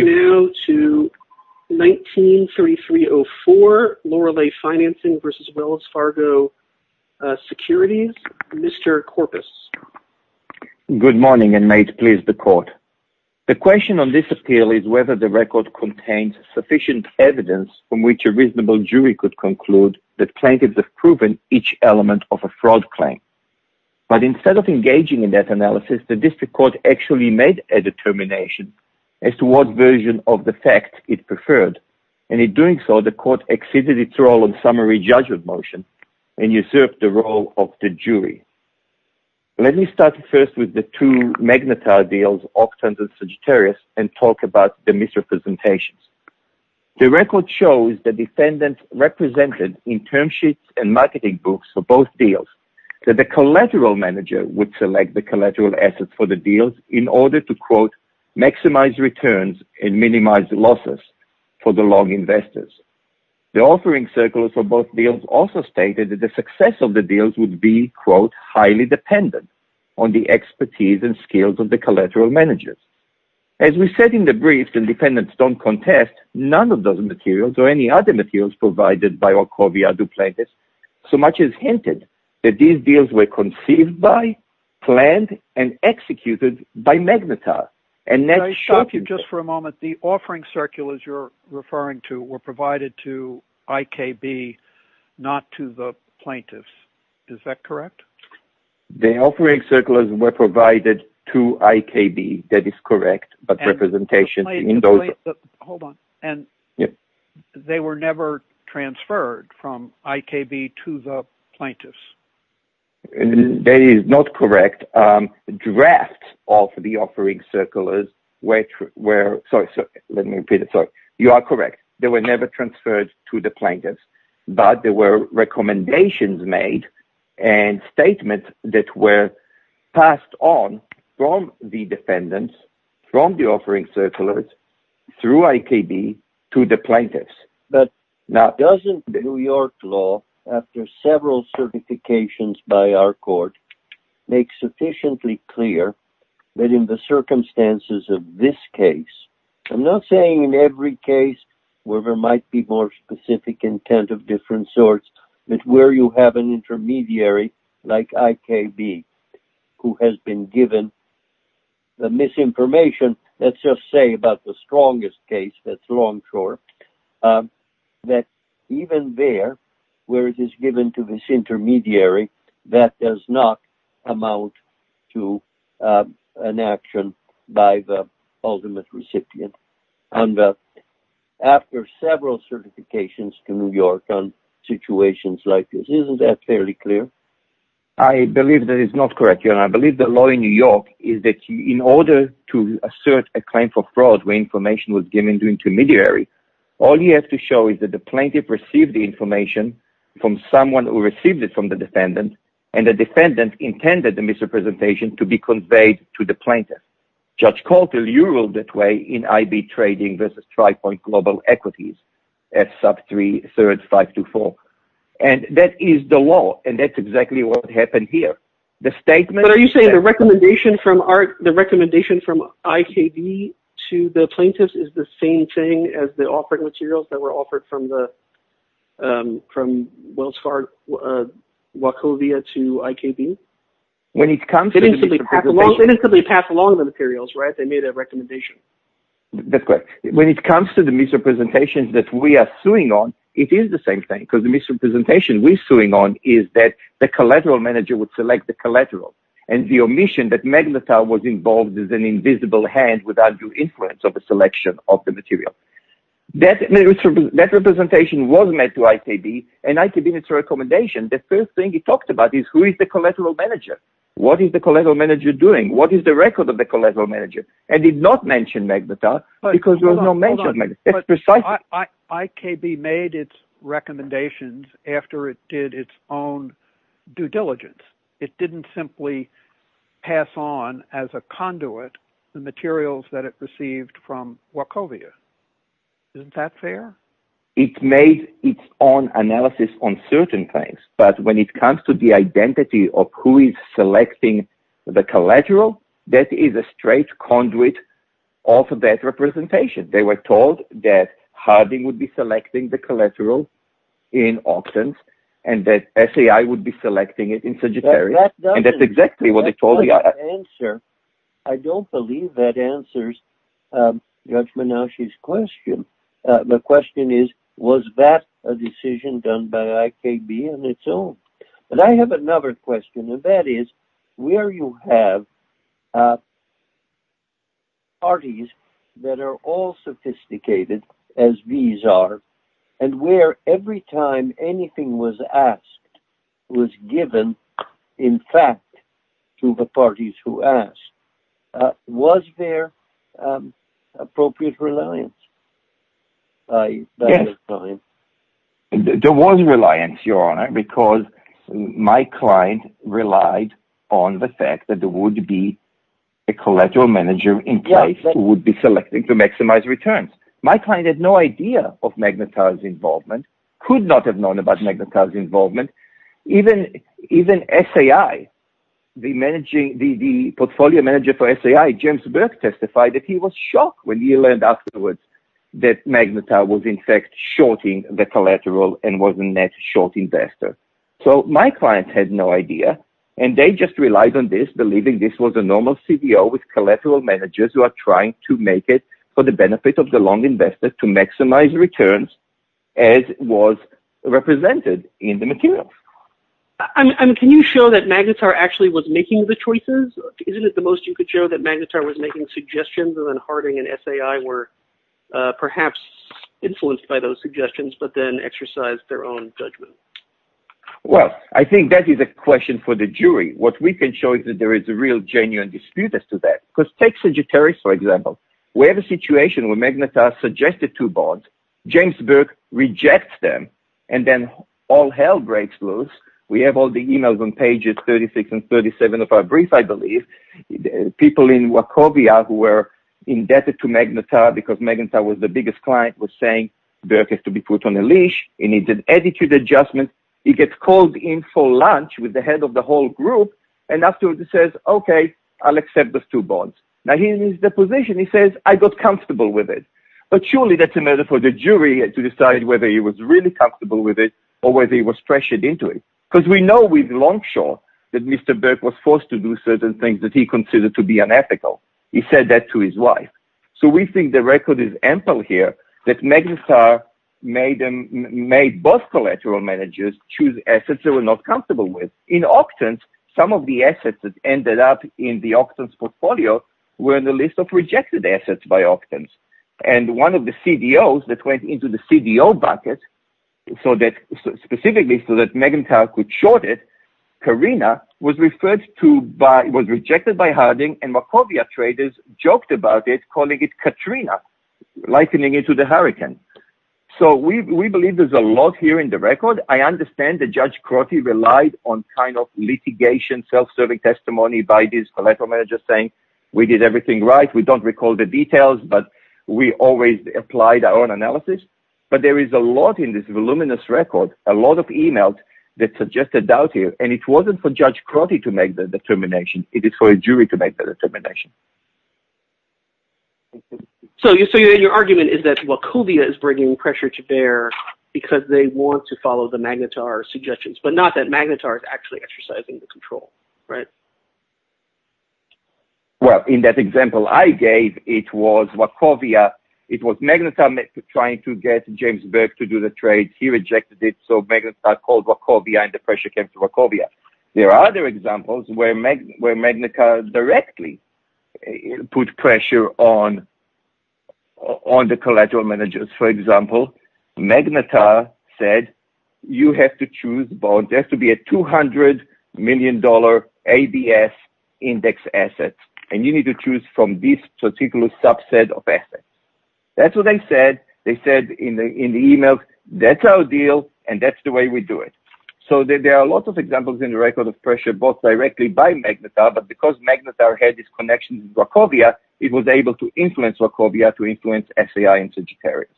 Good morning and may it please the court. The question on this appeal is whether the record contains sufficient evidence from which a reasonable jury could conclude that plaintiffs have proven each element of a fraud claim. But instead of engaging in that analysis, the district court actually made a determination as to what version of the fact it preferred, and in doing so, the court exceeded its role on summary judgment motion and usurped the role of the jury. Let me start first with the two Magnetar deals, Octant and Sagittarius, and talk about the misrepresentations. The record shows the defendant represented in term sheets and marketing books for both deals, that the collateral manager would select the collateral assets for the deals in order to maximize returns and minimize losses for the long investors. The offering circles for both deals also stated that the success of the deals would be highly dependent on the expertise and skills of the collateral managers. As we said in the brief, the defendants don't contest none of the materials or any other materials provided by Orkovia du Plaintiffs, so much is hinted that these deals were conceived by, planned, and executed by Magnetar. The offering circles were to IKB, not to the plaintiffs, is that correct? The offering circles were provided to IKB, that is correct, but representation in those... Hold on, and they were never transferred from IKB to the plaintiffs? That is not correct. Drafts of the offering circles were... Sorry, let me repeat it, sorry. You are correct. They were never transferred to the plaintiffs, but there were recommendations made and statements that were passed on from the defendants, from the offering circlers, through IKB to the plaintiffs. But doesn't New York law, after several certifications by our court, make sufficiently clear that in the circumstances of this case, I'm not saying in every case where there might be more specific intent of different sorts, that where you have an intermediary like IKB who has been given the misinformation, let's just say about the strongest case, that's Longshore, that even there where it is given to this intermediary, that does not amount to an action by the ultimate recipient. And after several certifications to New York on situations like this, isn't that fairly clear? I believe that it's not correct. I believe the law in New York is that in order to assert a claim for fraud where information was given to intermediary, all you have to show is that the plaintiff received the information from someone who received it from the defendant, and the defendant intended the misrepresentation to be conveyed to the plaintiff. Judge Coulter, you ruled that way in IB Trading versus TriPoint Global Equities, F sub 3, third 524. And that is the law, and that's exactly what happened here. The statement... But are you saying the recommendation from IKB to the plaintiffs is the same thing as the offering materials that were offered from Wells Fargo, Wachovia to IKB? When it comes to the misrepresentation... They didn't simply pass along the materials, right? They made a recommendation. That's correct. When it comes to the misrepresentation that we are suing on, it is the same thing, because the misrepresentation we're suing on is that the collateral manager would select the collateral, and the omission that of the material. That misrepresentation was made to IKB, and IKB, in its recommendation, the first thing it talked about is who is the collateral manager? What is the collateral manager doing? What is the record of the collateral manager? And it did not mention Magbatar, because there was no mention of Magbatar. It's precise... IKB made its recommendations after it did its own due diligence. It didn't simply pass on as a conduit the materials that it received from Wachovia. Isn't that fair? It made its own analysis on certain things, but when it comes to the identity of who is selecting the collateral, that is a straight conduit of that representation. They were told that Harding would be selecting the collateral in Auctions, and that SAI would be selecting it in Auctions. I don't believe that answers Judge Menashe's question. The question is, was that a decision done by IKB on its own? But I have another question, and that is, where you have parties that are all sophisticated, as these are, and where every time anything was asked was given, in fact, to the parties who asked, was there appropriate reliance? There was reliance, Your Honor, because my client relied on the fact that there would be a collateral manager in place who would be selecting to maximize returns. My client had no idea of Magnetar's involvement. He could not have known about Magnetar's involvement. Even the portfolio manager for SAI, James Burke, testified that he was shocked when he learned afterwards that Magnetar was, in fact, shorting the collateral and was a net short investor. My client had no idea, and they just relied on this, believing this was a normal CBO with returns, as was represented in the material. Can you show that Magnetar actually was making the choices? Isn't it the most you could show that Magnetar was making suggestions, and then Harding and SAI were perhaps influenced by those suggestions, but then exercised their own judgment? Well, I think that is a question for the jury. What we can show is that there is a real genuine dispute as to that. Take Sagittarius, for example. We have a situation where Magnetar suggested two bonds. James Burke rejects them, and then all hell breaks loose. We have all the emails on pages 36 and 37 of our brief, I believe. People in Wachovia who were indebted to Magnetar because Magnetar was the biggest client were saying, ìBurke has to be put on a leash. He needs an attitude adjustment.î He gets called in for lunch with the head of the whole group, and afterwards, he says, ìOkay, Iíll accept those bonds.î Now, here is the position. He says, ìI got comfortable with it.î But surely, thatís a matter for the jury to decide whether he was really comfortable with it or whether he was pressured into it. We know with Longshore that Mr. Burke was forced to do certain things that he considered to be unethical. He said that to his wife. We think the record is ample here that Magnetar made both collateral managers choose assets they were not comfortable with. In Octans, some of the assets that ended up in the Octans portfolio were in the list of rejected assets by Octans. One of the CDOs that went into the CDO bucket, specifically so that Magnetar could short it, Carina, was rejected by Harding, and Wachovia traders joked about it, calling it Katrina, likening it to the hurricane. We believe thereís a lot here in the record. I understand that Judge Crotty relied on kind of litigation, self-serving testimony by these collateral managers saying, ìWe did everything right. We donít recall the details, but we always applied our own analysis.î But there is a lot in this voluminous record, a lot of emails that suggested doubt here, and it wasnít for Judge Crotty to make the determination. It is for a jury to make the determination. So your argument is that Wachovia is bringing pressure to bear because they want to follow the Magnetar suggestions, but not that Magnetar is actually exercising the control, right? Well, in that example I gave, it was Wachovia. It was Magnetar trying to get James Burke to do the trade. He rejected it, so Magnetar called Wachovia, and the pressure came to Wachovia. There are other examples where Magnetar directly put pressure on the collateral managers. For example, Magnetar said, ìYou have to choose bonds. There has to be a $200 million ABS index asset, and you need to choose from this particular subset of assets.î Thatís what they said. They said in the email, ìThatís our deal, and thatís the way we do it.î So there are a lot of examples in the record of pressure, both directly by Magnetar, but because Magnetar had this connection with Wachovia, it was able to influence Wachovia to influence SAI and Sagittarius.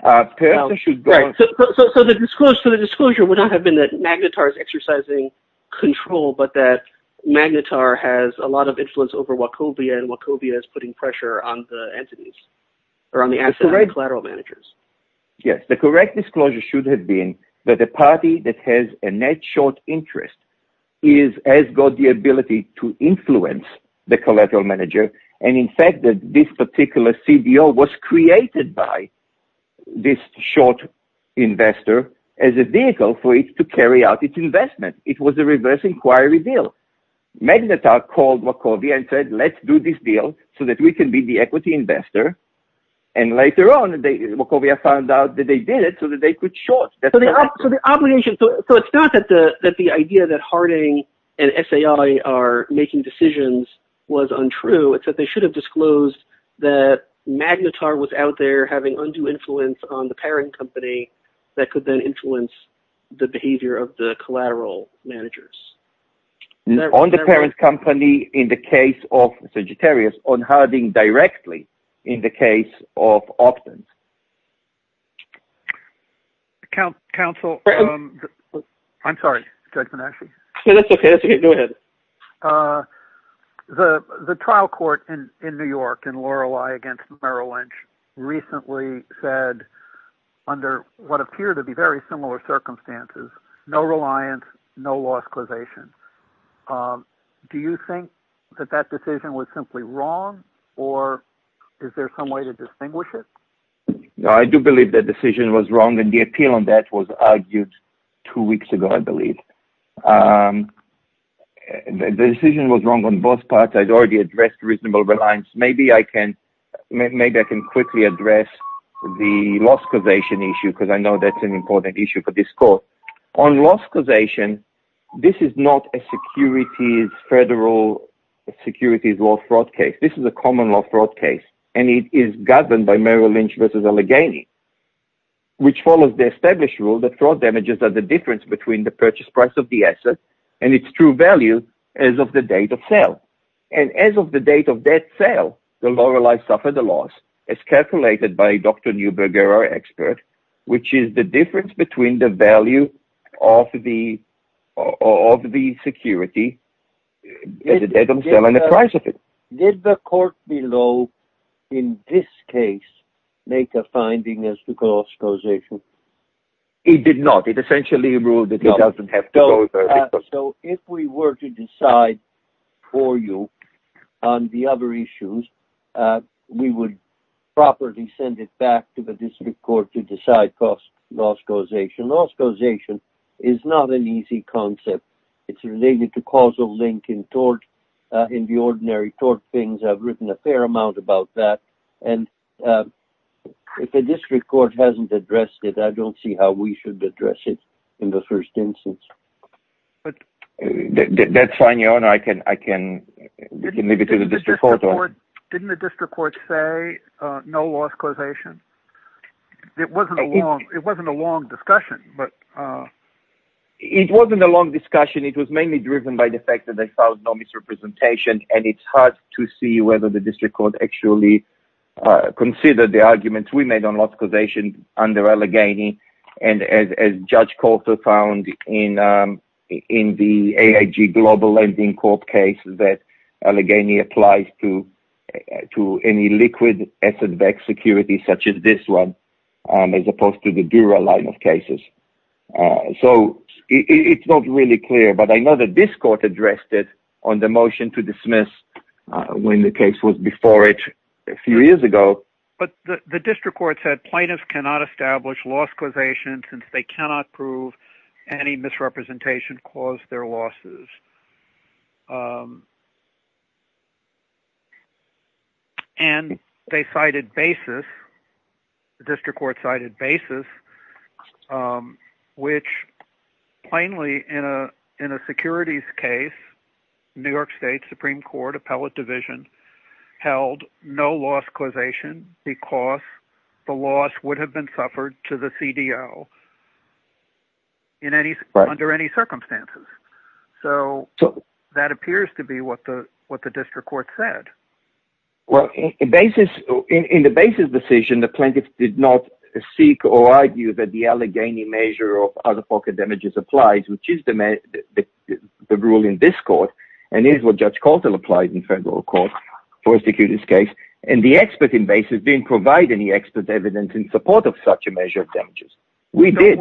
So the disclosure would not have been that Magnetar is exercising control, but that Magnetar has a lot of influence over Wachovia, and Wachovia is putting pressure on the collateral managers. Yes. The correct disclosure should have been that a party that has a net short interest has got the ability to influence the collateral manager, and in fact, this particular CBO was created by this short investor as a vehicle for it to carry out its investment. It was a reverse inquiry deal. Magnetar called Wachovia and said, ìLetís do this deal so that we can be the equity investor,î and later on, Wachovia found out that they did it so that they that Harding and SAI are making decisions was untrue. They should have disclosed that Magnetar was out there having undue influence on the parent company that could then influence the behavior of the collateral managers. On the parent company in the case of Sagittarius, on Harding directly in the case of Optum. The trial court in New York in Lorelei against Merrill Lynch recently said, under what appeared to be very similar circumstances, no reliance, no loss causation. Do you think that that decision was simply wrong, or is there some way to distinguish it? I do believe that the decision was wrong, and the appeal on that was argued two weeks ago, I believe. The decision was wrong on both parts. Iíve already addressed reasonable reliance. Maybe I can quickly address the loss causation issue because I know thatís an important issue for this court. On loss causation, this is not a federal securities law fraud case. This is a Merrill Lynch versus Allegheny case, which follows the established rule that fraud damages are the difference between the purchase price of the asset and its true value as of the date of sale. As of the date of that sale, Lorelei suffered a loss as calculated by Dr. Neuberger, our expert, which is the difference between the value of the security and the price of it. Did the court below, in this case, make a finding as to loss causation? It did not. It essentially ruled that it doesnít have to. So if we were to decide for you on the other issues, we would properly send it back to the district court to decide loss causation. Loss causation is not an easy concept. Itís related to causal link in the ordinary tort things. Iíve written a fair amount about that. If the district court hasnít addressed it, I donít see how we should address it in the first instance. Thatís fine, Your Honor. I can leave it to the district court. Didnít the district court say no loss causation? It wasnít a long discussion. It was mainly driven by the fact that they found no misrepresentation and itís hard to see whether the district court actually considered the argument we made on loss causation under Allegheny. As Judge Coulter found in the AIG Global Lending Corp case that Allegheny applies to any liquid asset-backed security such as this one as opposed to the Dura line of cases. So itís not really clear, but I know that this court addressed it on the motion to dismiss when the case was before it a few years ago. But the district court said plaintiffs cannot establish loss causation since they cannot prove any misrepresentation caused their losses. And they cited basis, the district court cited basis, which plainly in a securities case, New York State Supreme Court Appellate Division held no loss causation because the loss would have been suffered to the CDO under any circumstances. So that appears to be what the district court said. Well, in the basis decision, the plaintiffs did not seek or argue that the Allegheny measure of out-of-pocket damages applies, which is the rule in this court and is what Judge Coulter applied in federal court for a securities case. And the expert in basis didnít provide any expert evidence in support of such a measure of damages. Donít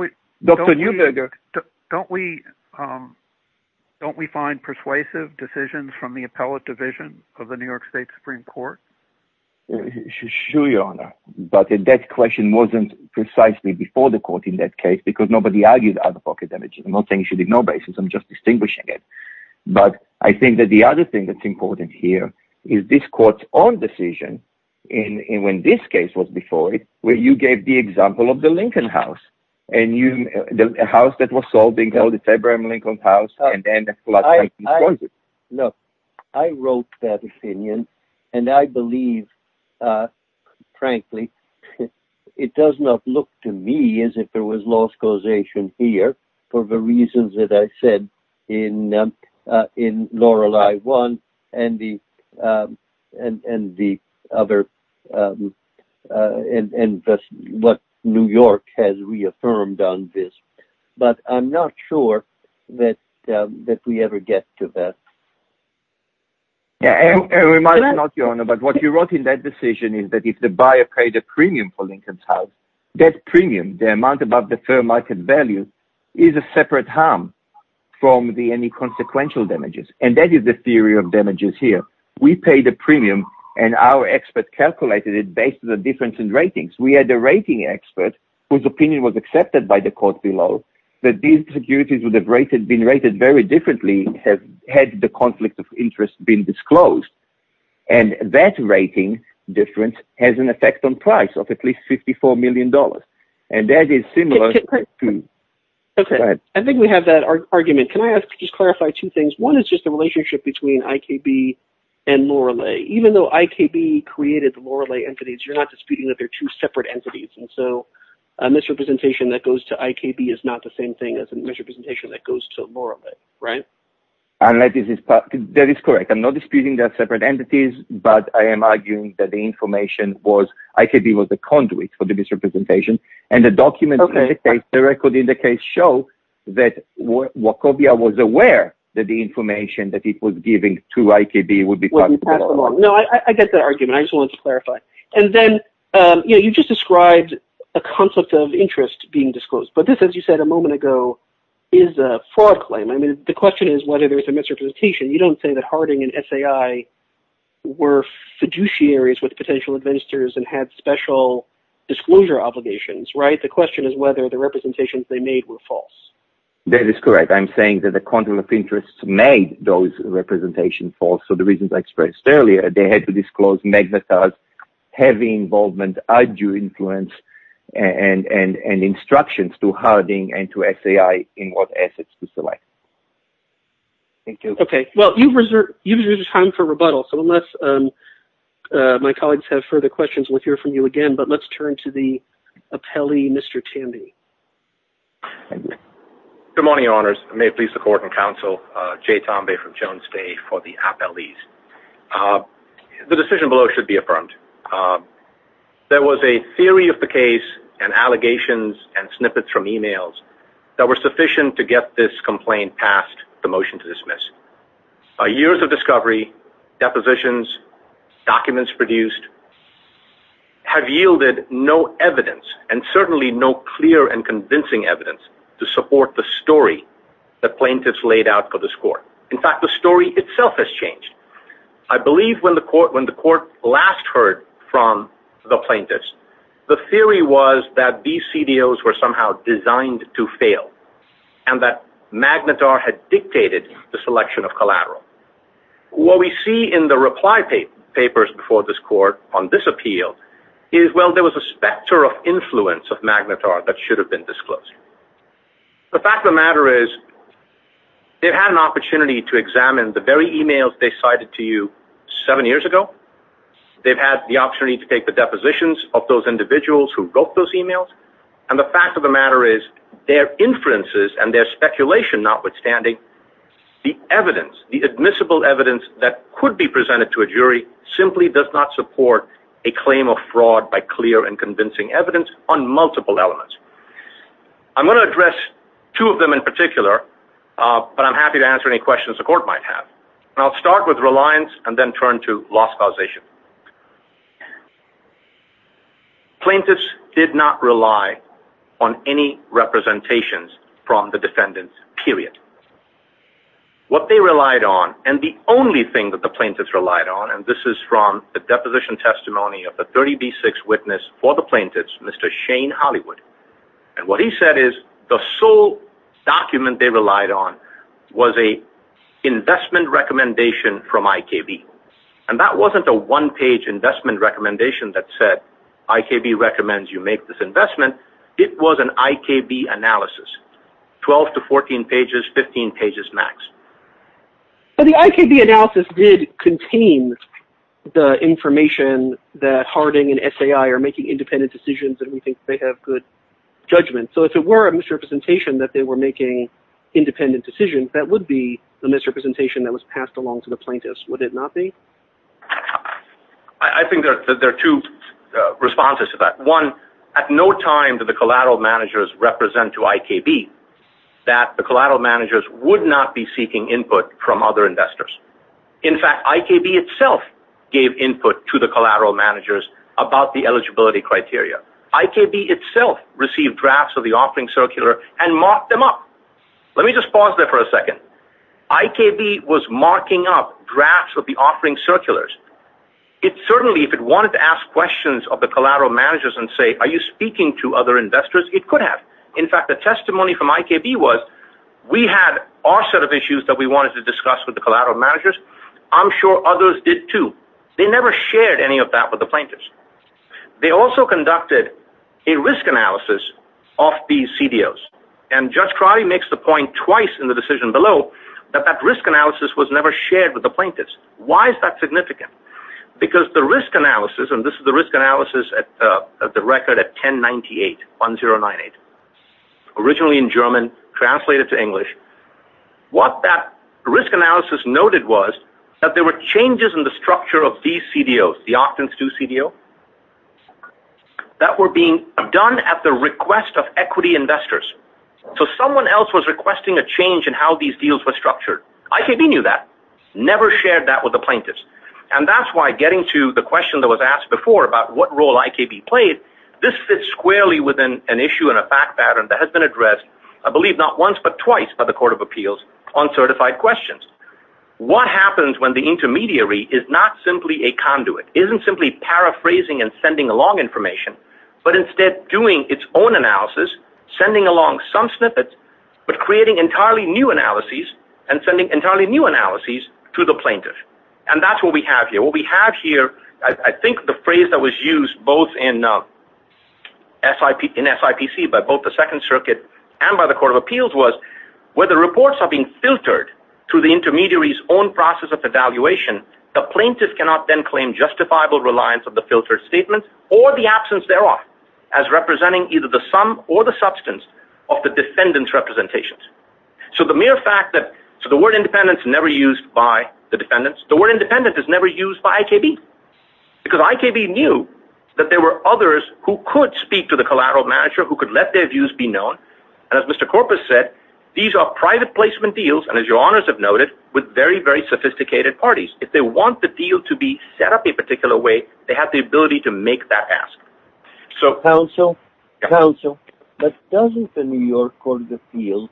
we find persuasive decisions from the Appellate Division of the New York State Supreme Court? Sure, Your Honor. But that question wasnít precisely before the court in that case because nobody argued out-of-pocket damages. Iím not saying you should ignore basis, Iím just distinguishing it. But I think that the other thing thatís important here is this courtís own decision, and when this case was before it, you gave the example of the Lincoln House, the house that was sold being called the February Lincoln House, and then the flood came and destroyed it. Look, I wrote that opinion, and I believe, frankly, it does not look to me as if there was loss in what New York has reaffirmed on this. But Iím not sure that we ever get to that. It might not, Your Honor, but what you wrote in that decision is that if the buyer paid a premium for Lincoln House, that premium, the amount above the fair market value, is a separate harm from any consequential damages. And that is the theory of damages here. We paid a premium, and our experts calculated it based on the difference in ratings. We had a rating expert whose opinion was accepted by the court below that these securities would have been rated very differently had the conflict of interest been disclosed. And that rating difference has an effect on price of at least $54 million, and that is similar toÖ Okay, I think we have that argument. Can I just clarify two things? One is just the Lorelei. Even though IKB created the Lorelei entities, youíre not disputing that theyíre two separate entities, and so a misrepresentation that goes to IKB is not the same thing as a misrepresentation that goes to Lorelei, right? That is correct. Iím not disputing theyíre separate entities, but I am arguing that the information wasÖ IKB was the conduit for the misrepresentation, and the documents in the case, the record in the case, show that Wachovia was aware that the information that it was giving to IKB would beÖ No, I get that argument. I just wanted to clarify. And then you just described a conflict of interest being disclosed, but this, as you said a moment ago, is a fraud claim. I mean, the question is whether thereís a misrepresentation. You donít say that Harding and SAI were fiduciaries with potential investors and had special disclosure obligations, right? The question is whether the representations they made were false. That is correct. Iím saying that the interests made those representations false, so the reasons I expressed earlier, they had to disclose magnetized, heavy involvement, arduous influence, and instructions to Harding and to SAI in what assets to select. Thank you. Okay. Well, youíve reserved time for rebuttal, so unless my colleagues have further questions, weíll hear from you again, but letís turn to the Jay Tambay from Jones Bay for the appellees. The decision below should be affirmed. There was a theory of the case and allegations and snippets from emails that were sufficient to get this complaint passed, the motion to dismiss. Years of discovery, depositions, documents produced, have yielded no evidence, and certainly no clear and convincing evidence, to support the story the plaintiffs laid out for this court. In fact, the story itself has changed. I believe when the court last heard from the plaintiffs, the theory was that these CDOs were somehow designed to fail and that Magnetar had dictated the selection of collateral. What we see in the reply papers before this court on this appeal is, well, there was a influence of Magnetar that should have been disclosed. The fact of the matter is, theyíve had an opportunity to examine the very emails they cited to you seven years ago, theyíve had the opportunity to take the depositions of those individuals who wrote those emails, and the fact of the matter is, their inferences and their speculation notwithstanding, the evidence, the admissible evidence that could be presented to a jury, simply does not support a claim of fraud by clear and convincing evidence on multiple elements. Iím going to address two of them in particular, but Iím happy to answer any questions the court might have. Iíll start with reliance and then turn to loss causation. Plaintiffs did not rely on any representations from the defendants, period. What they relied on, and the only thing that the plaintiffs relied on, and this is from the deposition testimony of the 30B6 witness for the plaintiffs, Mr. Shane Hollywood, and what he said is, the sole document they relied on was an investment recommendation from IKB. And that wasnít a one-page investment recommendation that said, ìIKB recommends you make this investment.î It was an IKB analysis, 12 to 14 pages, 15 pages max. But the IKB analysis did contain the information that Harding and SAI are making independent decisions, and we think they have good judgment. So if it were a misrepresentation that they were making independent decisions, that would be the misrepresentation that was passed along to the plaintiffs, would it not be? I think there are two responses to that. One, at no time did the collateral managers represent to IKB that the collateral managers would not be seeking input from other investors. In fact, IKB itself gave input to the collateral managers about the eligibility criteria. IKB itself received drafts of the offering circular and marked them up. Let me just pause there for a second. IKB was marking up drafts of the offering circulars. It certainly, if it wanted to ask questions of the collateral managers and say, ìAre you speaking to other investors?î It could have. In fact, the testimony from IKB was, ìWe had our set of issues that we wanted to discuss with the collateral managers. Iím sure others did too.î They never shared any of that with the plaintiffs. They also conducted a risk analysis of these CDOs, and Judge Crowley makes the point twice in the decision below that that risk analysis was never shared with the plaintiffs. Why is that significant? Because the risk analysis, and this is the risk analysis at the record at 1098, 1098, originally in German, translated to English, what that risk analysis noted was that there were changes in the structure of these CDOs, the Octance II CDO, that were being done at the request of equity investors. So someone else was requesting a change in how these deals were structured. IKB knew that, never shared that with the plaintiffs. And thatís why getting to the question that was asked before about what role IKB played, this fits squarely with an issue and that has been addressed, I believe not once but twice by the Court of Appeals on certified questions. What happens when the intermediary is not simply a conduit, isnít simply paraphrasing and sending along information, but instead doing its own analysis, sending along some snippets, but creating entirely new analyses, and sending entirely new analyses to the plaintiff. And thatís what we have here. What we have here, I think the phrase that was used both in SIPC by both the Second Circuit and by the Court of Appeals was, where the reports are being filtered through the intermediaryís own process of evaluation, the plaintiff cannot then claim justifiable reliance of the filtered statement or the absence thereof as representing either the sum or the substance of the defendantís representations. So the mere fact that, so the word ìindependentî is never used by the defendants. The word ìindependentî is never used by IKB. Because IKB knew that there were others who could speak to the collateral manager, who could let their views be known, and as Mr. Corpus said, these are private placement deals, and as your Honours have noted, with very, very sophisticated parties. If they want the deal to be set up a particular way, they have the ability to make that ask. So, counsel, counsel, but doesnít the New York Court of Appeals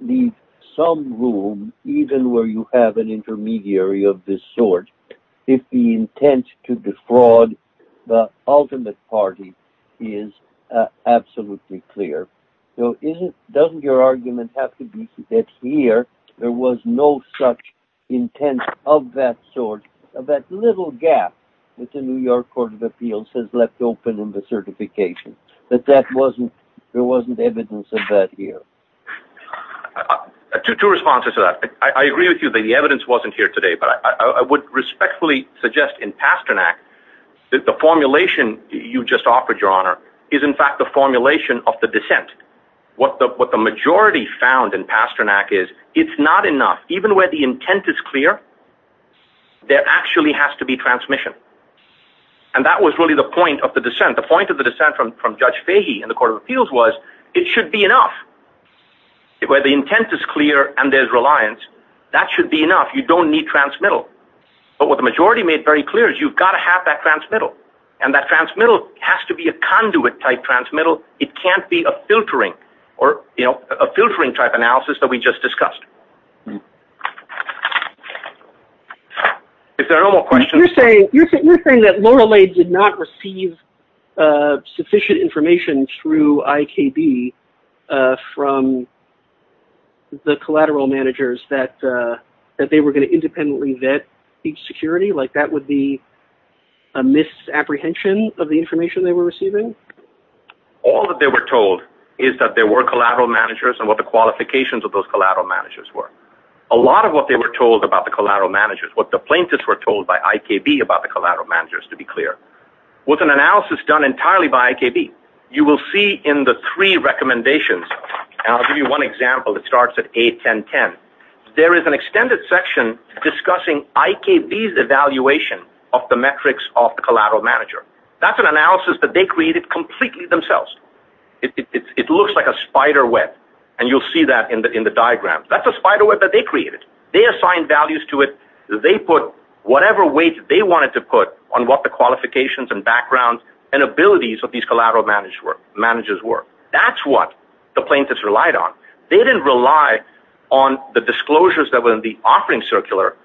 leave some room even where you have an intermediary of this sort if the intent to defraud the ultimate party is absolutely clear? So isnít, doesnít your argument have to be that here there was no such intent of that sort, of that little gap that the New York Court of Appeals has left open in the certification, that that wasnít, there wasnít evidence of that here? Two responses to that. I agree with you that the evidence wasnít here today, but I would respectfully suggest in Pasternak that the formulation you just offered, your Honour, is in fact the formulation of the dissent. What the majority found in Pasternak is, itís not enough. Even where the intent is clear, there actually has to be transmission. And that was really the point of the dissent. The point of the dissent from Judge Fahey in the where the intent is clear and thereís reliance, that should be enough. You donít need transmittal. But what the majority made very clear is youíve got to have that transmittal, and that transmittal has to be a conduit-type transmittal. It canít be a filtering or, you know, a filtering-type analysis that we just discussed. If there are no more questionsÖ Youíre saying, youíre saying that did not receive sufficient information through IKB from the collateral managers that they were going to independently vet each security, like that would be a misapprehension of the information they were receiving? All that they were told is that there were collateral managers and what the qualifications of those collateral managers were. A lot of what they were told about the collateral managers, to be clear, was an analysis done entirely by IKB. You will see in the three recommendations, and Iíll give you one example that starts at A1010, there is an extended section discussing IKBís evaluation of the metrics of the collateral manager. Thatís an analysis that they created completely themselves. It looks like a spider web, and youíll see that in the diagram. Thatís a spider web that they created. They assigned values to it. They put whatever weight they wanted to put on what the qualifications and backgrounds and abilities of these collateral managers were. Thatís what the plaintiffs relied on. They didnít rely on the disclosures that were in the offering circular,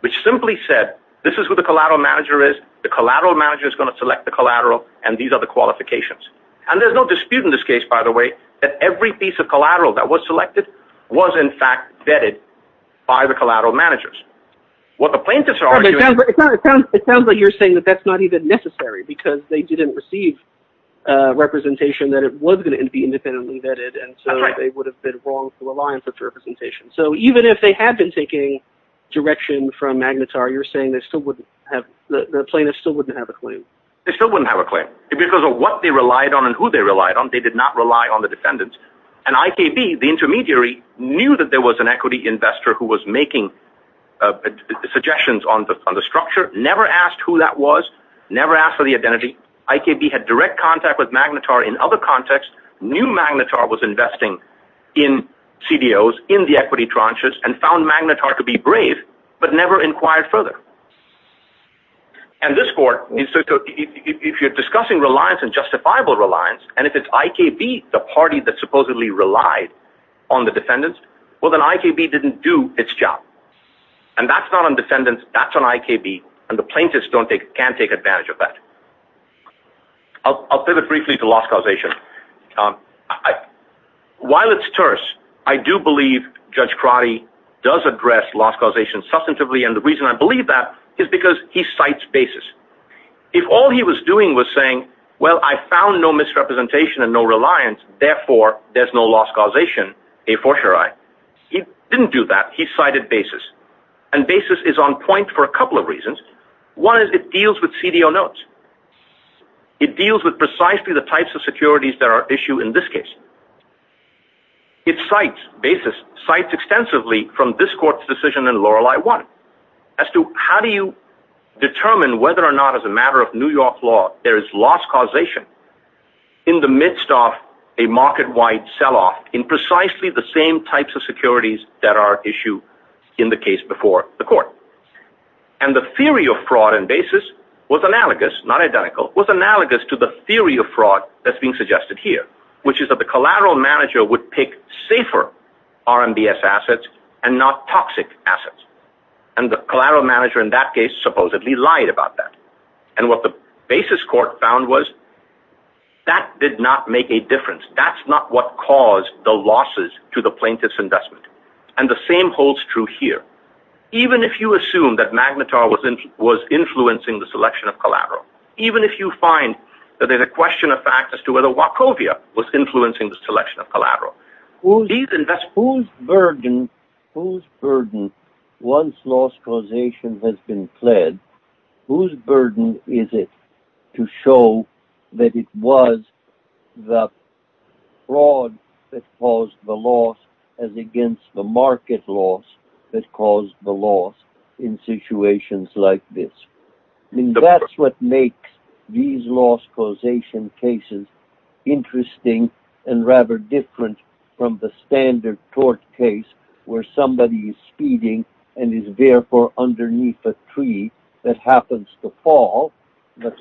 which simply said, ìThis is who the collateral manager is. The collateral manager is going to select the collateral, and these are the qualifications.î And thereís no dispute in this case, by the way, that every piece of collateral that was selected was in fact vetted by the collateral managers. What the plaintiffs are arguingÖ It sounds like youíre saying that thatís not even necessary, because they didnít receive representation that it was going to be independently vetted, and so they would have been wrong to rely on such representation. So even if they had been taking direction from Magnetar, youíre saying the plaintiffs still wouldnít have a claim? They still wouldnít have a claim. Because of what they relied on and who they relied on, they did not rely on the defendants. And IKB, the intermediary, knew that there was an equity structure, never asked who that was, never asked for the identity. IKB had direct contact with Magnetar in other contexts, knew Magnetar was investing in CDOs, in the equity tranches, and found Magnetar to be brave, but never inquired further. And this court, if youíre discussing reliance and justifiable reliance, and if itís IKB, the party that supposedly relied on the And thatís not on defendants, thatís on IKB, and the plaintiffs canít take advantage of that. Iíll pivot briefly to loss causation. While itís terse, I do believe Judge Crotty does address loss causation substantively, and the reason I believe that is because he cites basis. If all he was doing was saying, ìWell, I found no misrepresentation and no reliance, therefore, thereís no loss causation, a fortiori.î He didnít do that. He cited basis. And basis is on point for a couple of reasons. One is it deals with CDO notes. It deals with precisely the types of securities that are at issue in this case. It cites basis, cites extensively from this courtís decision in Lorelei 1, as to how do you determine whether or not, as a matter of New York law, there is loss causation in the midst of a market-wide sell-off in precisely the same types of securities that are at issue in the case before the court. And the theory of fraud and basis was analogous, not identical, was analogous to the theory of fraud thatís being suggested here, which is that the collateral manager would pick safer RMBS assets and not toxic assets. And the collateral manager in that case supposedly lied about that. And what the basis court found was, that did not make a difference. Thatís not what caused the losses to the plaintiffís investment. And the same holds true here. Even if you assume that Magnetar was influencing the selection of collateral, even if you find that thereís a question of fact as to whether Wachovia was influencing the selection of collateral, whose burden once loss causation has been pled, whose burden is it to show that it was the fraud that caused the loss as against the market loss that caused the loss in situations like this? Thatís what makes these loss causation cases interesting and rather different from the standard tort case where somebody is speeding and is therefore underneath a tree that happens to fall, but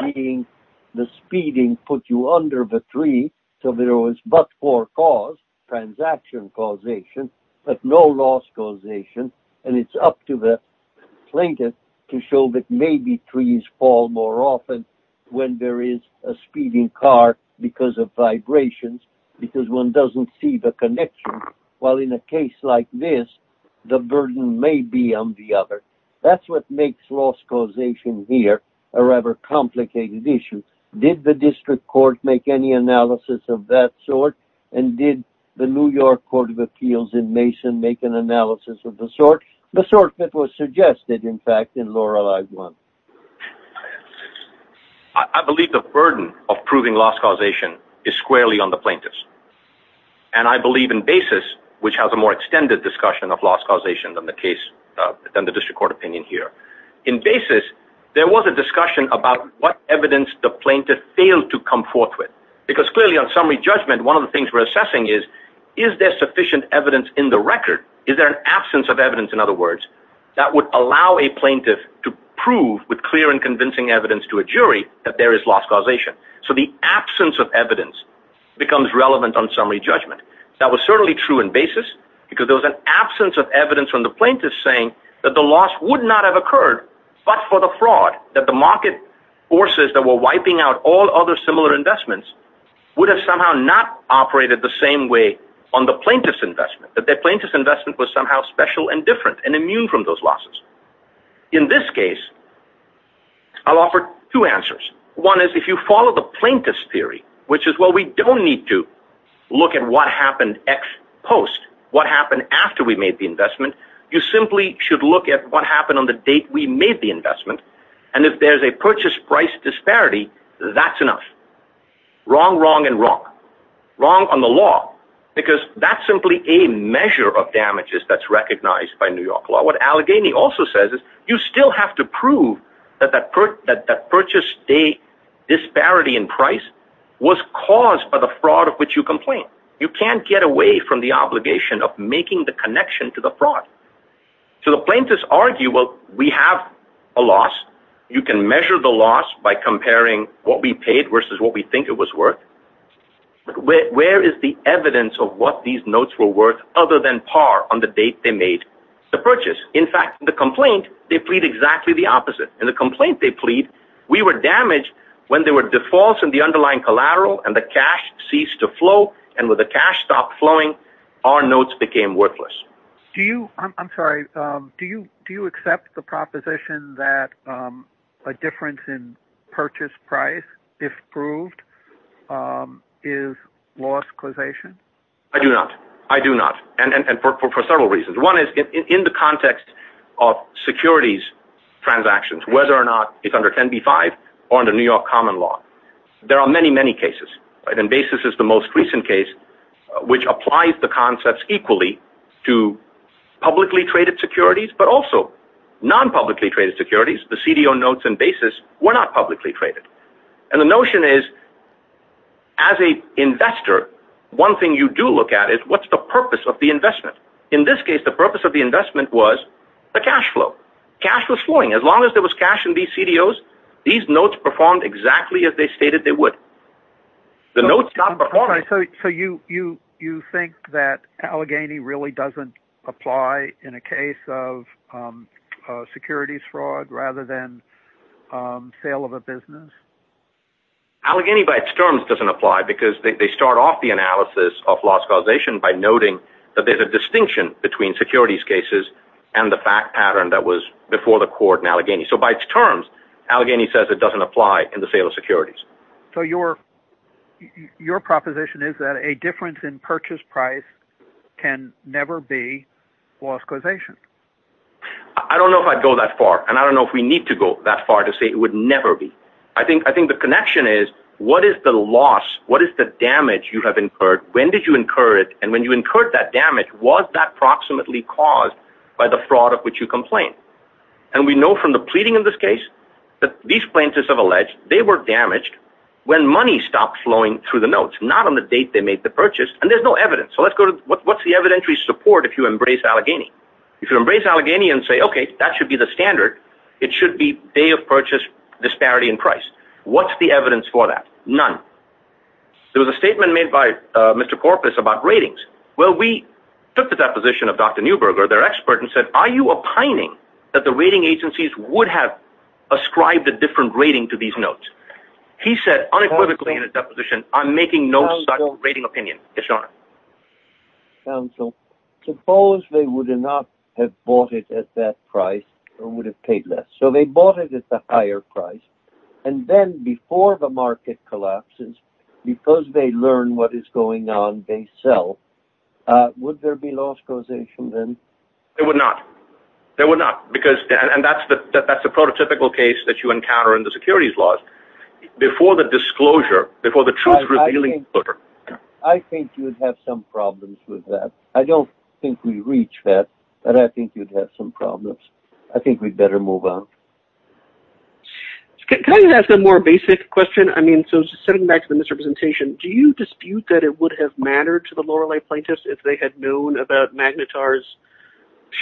being the speeding put you under the tree, so there was but-for cause, transaction causation, but no loss causation, and itís up to because of vibrations, because one doesnít see the connection, while in a case like this, the burden may be on the other. Thatís what makes loss causation here a rather complicated issue. Did the district court make any analysis of that sort? And did the New York Court of Appeals in Mason make an analysis of the sort? The sort that was suggested, in fact, in Loreleiís one. I believe the burden of proving loss causation is squarely on the plaintiffs, and I believe in Basis, which has a more extended discussion of loss causation than the case, than the district court opinion here. In Basis, there was a discussion about what evidence the plaintiff failed to come forth with, because clearly on summary judgment, one of the things weíre assessing is, is there sufficient evidence in the record, is there an absence of evidence, in other words, that would allow a plaintiff to prove with clear and convincing evidence to a jury that there is loss causation. So the absence of evidence becomes relevant on summary judgment. That was certainly true in Basis, because there was an absence of evidence from the plaintiffs saying that the loss would not have occurred, but for the fraud, that the market forces that were wiping out all other similar investments would have somehow not operated the same way on the plaintiffís investment, that the plaintiffís investment was somehow special and different and immune from those losses. In this case, Iíll offer two answers. One is, if you follow the plaintiffís theory, which is, well, we donít need to look at what happened ex post, what happened after we made the investment, you simply should look at what happened on the date we made the investment, and if thereís a purchase price disparity, thatís enough. Wrong, wrong, and wrong. Wrong on the law, because thatís simply a measure of damages thatís recognized by New York law. What Allegheny also says is, you still have to prove that that purchase day disparity in price was caused by the fraud of which you complain. You canít get away from the obligation of making the connection to the fraud. So the plaintiffs argue, well, we have a loss. You can measure the loss by comparing what we paid versus what we think it was worth. Where is the evidence of what these notes were worth other than par on the date they made the purchase? In fact, in the complaint, they plead exactly the opposite. In the complaint they plead, we were damaged when there were defaults in the underlying collateral and the cash ceased to flow, and with the cash stopped flowing, our notes became worthless. I do not. I do not, and for several reasons. One is, in the context of securities transactions, whether or not itís under 10b-5 or under New York common law, there are many, many cases, and Basis is the most recent case which applies the concepts equally to publicly traded securities, but also non-publicly traded securities. The CDO notes in Basis were not publicly traded. And the notion is, as an investor, one thing you do look at is, whatís the purpose of the investment? In this case, the purpose of the investment was the cash flow. Cash was flowing. As long as there was cash in these CDOs, these notes performed exactly as they stated they would. The notes stopped performing. So you think that Allegheny really doesnít apply in a case of securities fraud rather than sale of a business? Allegheny by its terms doesnít apply because they start off the analysis of loss causation by noting that thereís a distinction between securities cases and the fact pattern that before the court in Allegheny. So by its terms, Allegheny says it doesnít apply in the sale of securities. So your proposition is that a difference in purchase price can never be loss causation? I donít know if Iíd go that far, and I donít know if we need to go that far to say it would never be. I think the connection is, what is the loss, what is the damage you have incurred, when did you incur it, and when you incurred that damage, was that proximately caused by the fraud of which you complained? And we know from the pleading in this case that these plaintiffs have alleged they were damaged when money stopped flowing through the notes, not on the date they made the purchase, and thereís no evidence. So whatís the evidentiary support if you embrace Allegheny? If you embrace Allegheny and say, okay, that should be the standard, it should be day of purchase disparity in price. Whatís the evidence for that? None. There was a statement made by their expert and said, are you opining that the rating agencies would have ascribed a different rating to these notes? He said, unequivocally in his deposition, Iím making no such rating opinion. Counsel, suppose they would not have bought it at that price, or would have paid less. So they bought it at the higher price, and then before the market collapses, because they learn what is going on, they sell. Would there be loss causation then? There would not. There would not. Because, and thatís the prototypical case that you encounter in the securities laws. Before the disclosure, before the truth revealing. I think youíd have some problems with that. I donít think weíve reached that, but I think youíd have some problems. I think weíd better move on. Can I ask a more basic question? I mean, so setting back to the misrepresentation, do you dispute that it would have mattered to the Lorelei plaintiffs if they had known about Magnitarís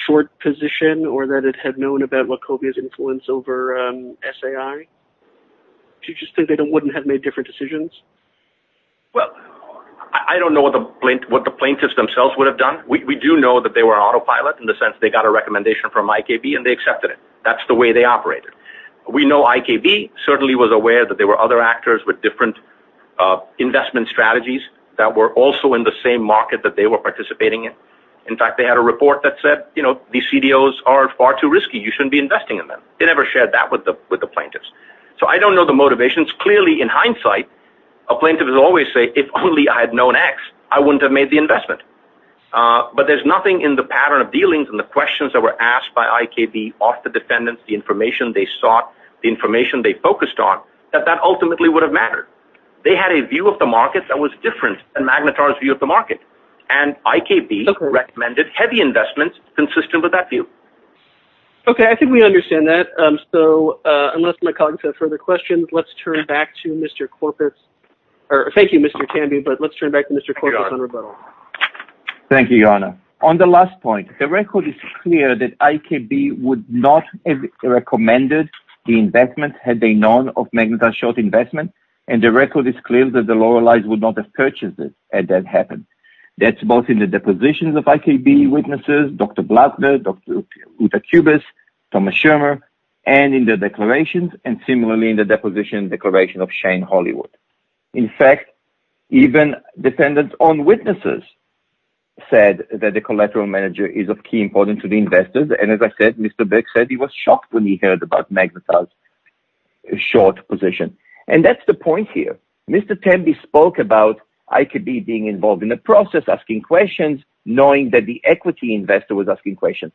short position, or that it had known about Wachoviaís influence over SAI? Do you just think they wouldnít have made different decisions? Well, I donít know what the plaintiffs themselves would have done. We do know that they were autopilot, in the sense they got a recommendation from IKB and they accepted it. Thatís the way they operated. We know IKB certainly was aware that there were other actors with different investment strategies that were also in the same market that they were participating in. In fact, they had a report that said, you know, ìThese CDOs are far too risky. You shouldnít be investing in them.î They never shared that with the plaintiffs. So I donít know the motivations. Clearly, in hindsight, a plaintiff will always say, ìIf only I had known X, I wouldnít have made the investment.î But thereís nothing in the pattern of dealings and the questions that were asked by IKB off the defendants, the information they sought, the information they focused on, that that ultimately would have mattered. They had a view of the market that was different than Magnitarís view of the market, and IKB recommended heavy investments consistent with that view. Okay, I think we understand that. So, unless my colleagues have further questions, letís turn back to Mr. Korpis. Thank you, Mr. Tambi, but letís turn back to Mr. Korpis on rebuttal. Thank you, Yonah. On the last point, the record is clear that IKB would not have recommended the investment had they known of Magnitarís short investment, and the record is clear that the loyalist would not have purchased it had that happened. Thatís both in the depositions of IKB witnesses, Dr. Blatner, Dr. Utakubis, Thomas Schirmer, and in the declarations, and similarly in the depositions and declarations of Shane Hollywood. In fact, even defendants on witnesses said that the collateral manager is of key importance to the investors, and as I said, he was shocked when he heard about Magnitarís short position, and thatís the point here. Mr. Tambi spoke about IKB being involved in the process, asking questions, knowing that the equity investor was asking questions.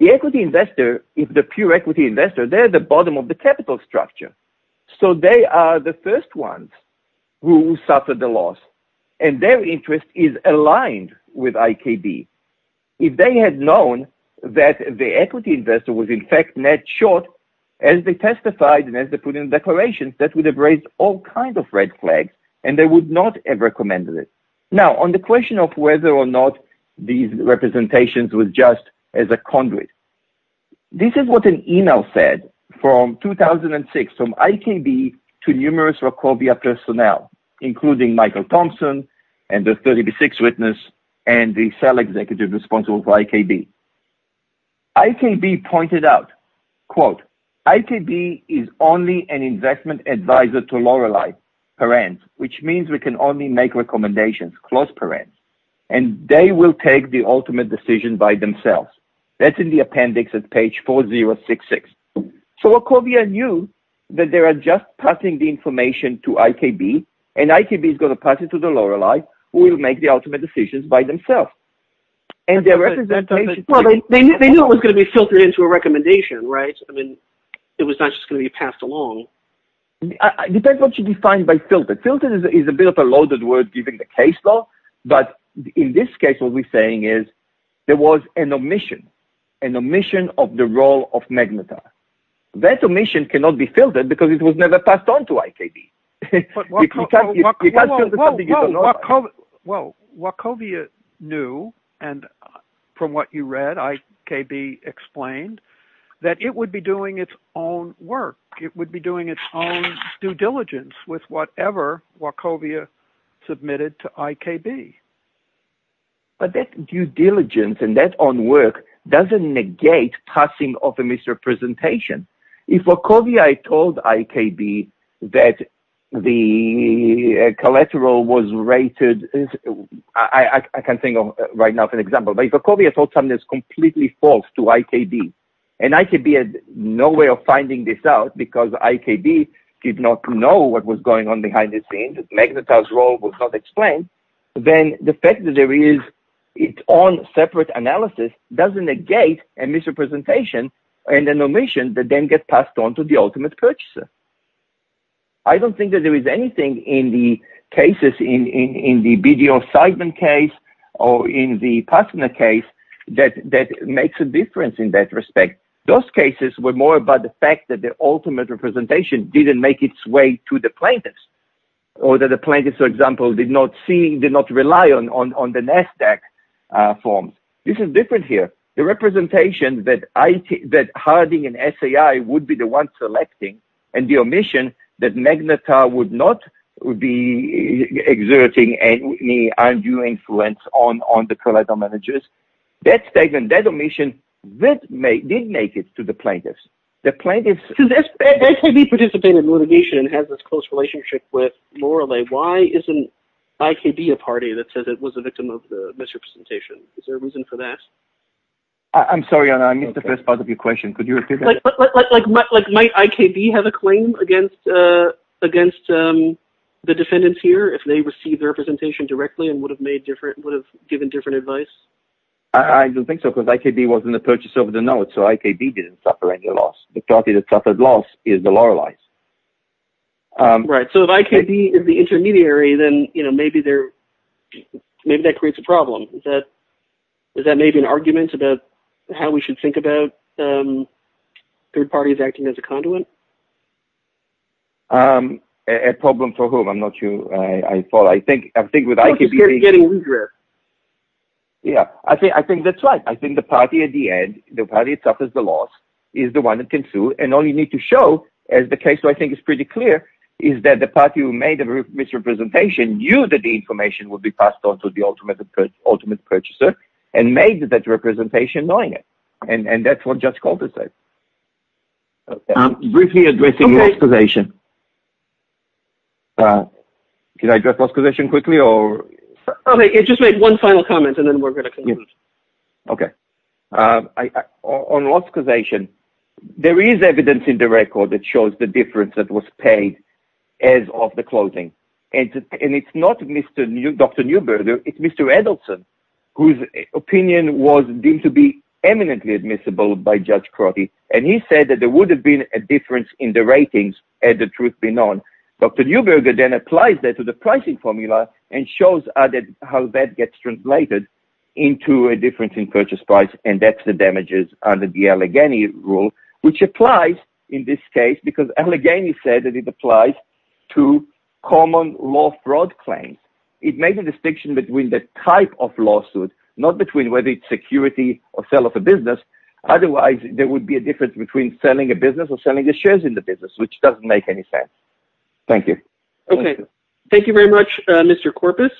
The equity investor, if the pure equity investor, theyíre the bottom of the capital structure, so they are the first ones who suffered the loss, and their interest is aligned with IKB. If they had known that the equity investor was, in fact, net short, as they testified and as they put in declarations, that would have raised all kinds of red flags, and they would not have recommended it. Now, on the question of whether or not these representations were just as a conduit, this is what an email said from 2006 from IKB to numerous Rokovia personnel, including Michael Thompson, and the 36th witness, and the cell executive responsible for IKB. IKB pointed out, ìIKB is only an investment advisor to Lorelei, which means we can only make recommendations, and they will take the ultimate decision by themselves.î Thatís in the appendix at page 4066. So Rokovia knew that they are just passing the information to IKB, and IKB is going to pass it to Lorelei, who will make the ultimate decisions by themselves. They knew it was going to be filtered into a recommendation, right? I mean, it was not just going to be passed along. It depends on what you define by ìfiltered.î ìFilteredî is a bit of a loaded word, given the case law, but in this case, what weíre saying is there was an omission, an omission of the role of Magnetar. That omission cannot be filled by IKB. Well, Rokovia knew, and from what you read, IKB explained, that it would be doing its own work. It would be doing its own due diligence with whatever Rokovia submitted to IKB. But that due diligence and that own work doesnít negate passing of a misrepresentation. If Rokovia told IKB that the collateral was rated, I can think of right now an example, but if Rokovia told something thatís completely false to IKB, and IKB had no way of finding this out because IKB did not know what was going on behind the scenes, Magnetarís role was not explained, then the fact that there is its own separate analysis doesnít negate a misrepresentation and an omission that then gets passed on to the ultimate purchaser. I donít think that there is anything in the cases, in the BDO assignment case, or in the Passner case, that makes a difference in that respect. Those cases were more about the fact that the ultimate representation didnít make its way to the plaintiffs or that the plaintiffs, for example, did not see, did not rely on the NASDAQ form. This is different here. The representation that Harding and SAI would be the ones selecting, and the omission that Magnetar would not be exerting any undue influence on the collateral managers, that statement, that omission, did make it to the plaintiffs. The plaintiffsÖ So, if IKB participated in litigation and has this close relationship with Lorelei, why isnít IKB a party that says it was a victim of the misrepresentation? Is there a reason for that? Iím sorry, Anna, I missed the first part of your question. Could you repeat that? Like, might IKB have a claim against the defendants here if they received the representation directly and would have given different advice? I donít think so, because IKB wasnít a purchaser of the knowledge, so IKB didnít suffer any loss. The party that suffered loss is the Loreleiís. Right. So, if IKB is the intermediary, then maybe that creates a problem. Is that an argument about how we should think about third parties acting as a conduit? A problem for whom? Iím not sure. I think with IKBÖ I think itís getting weirder. Yeah. I think thatís right. I think the party at the end, the party that suffers the loss, is the one that can sue, and all you need to show, as the case I think is pretty clear, is that the party who made the misrepresentation knew that the information would be passed on to the ultimate purchaser, and made that representation knowing it. And thatís what Judge Calder said. Briefly addressing loss causation. Can I address loss causation quickly? Just make one final comment, and then weíre going to conclude. Okay. On loss causation, there is evidence in the record that shows the difference that was paid as of the closing. And itís not Dr. Neuberger, itís Mr. Edelson, whose opinion was deemed to be eminently admissible by Judge Crotty, and he said that there would have been a difference in the ratings had the truth been known. Dr. Neuberger then applies that to the pricing formula, and shows how that gets translated into a difference in purchase price, and thatís the two common law fraud claims. It makes a distinction between the type of lawsuit, not between whether itís security or sale of a business, otherwise there would be a difference between selling a business or selling the shares in the business, which doesnít make any sense. Thank you. Okay. Thank you very much, Mr. Korpis.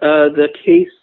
The case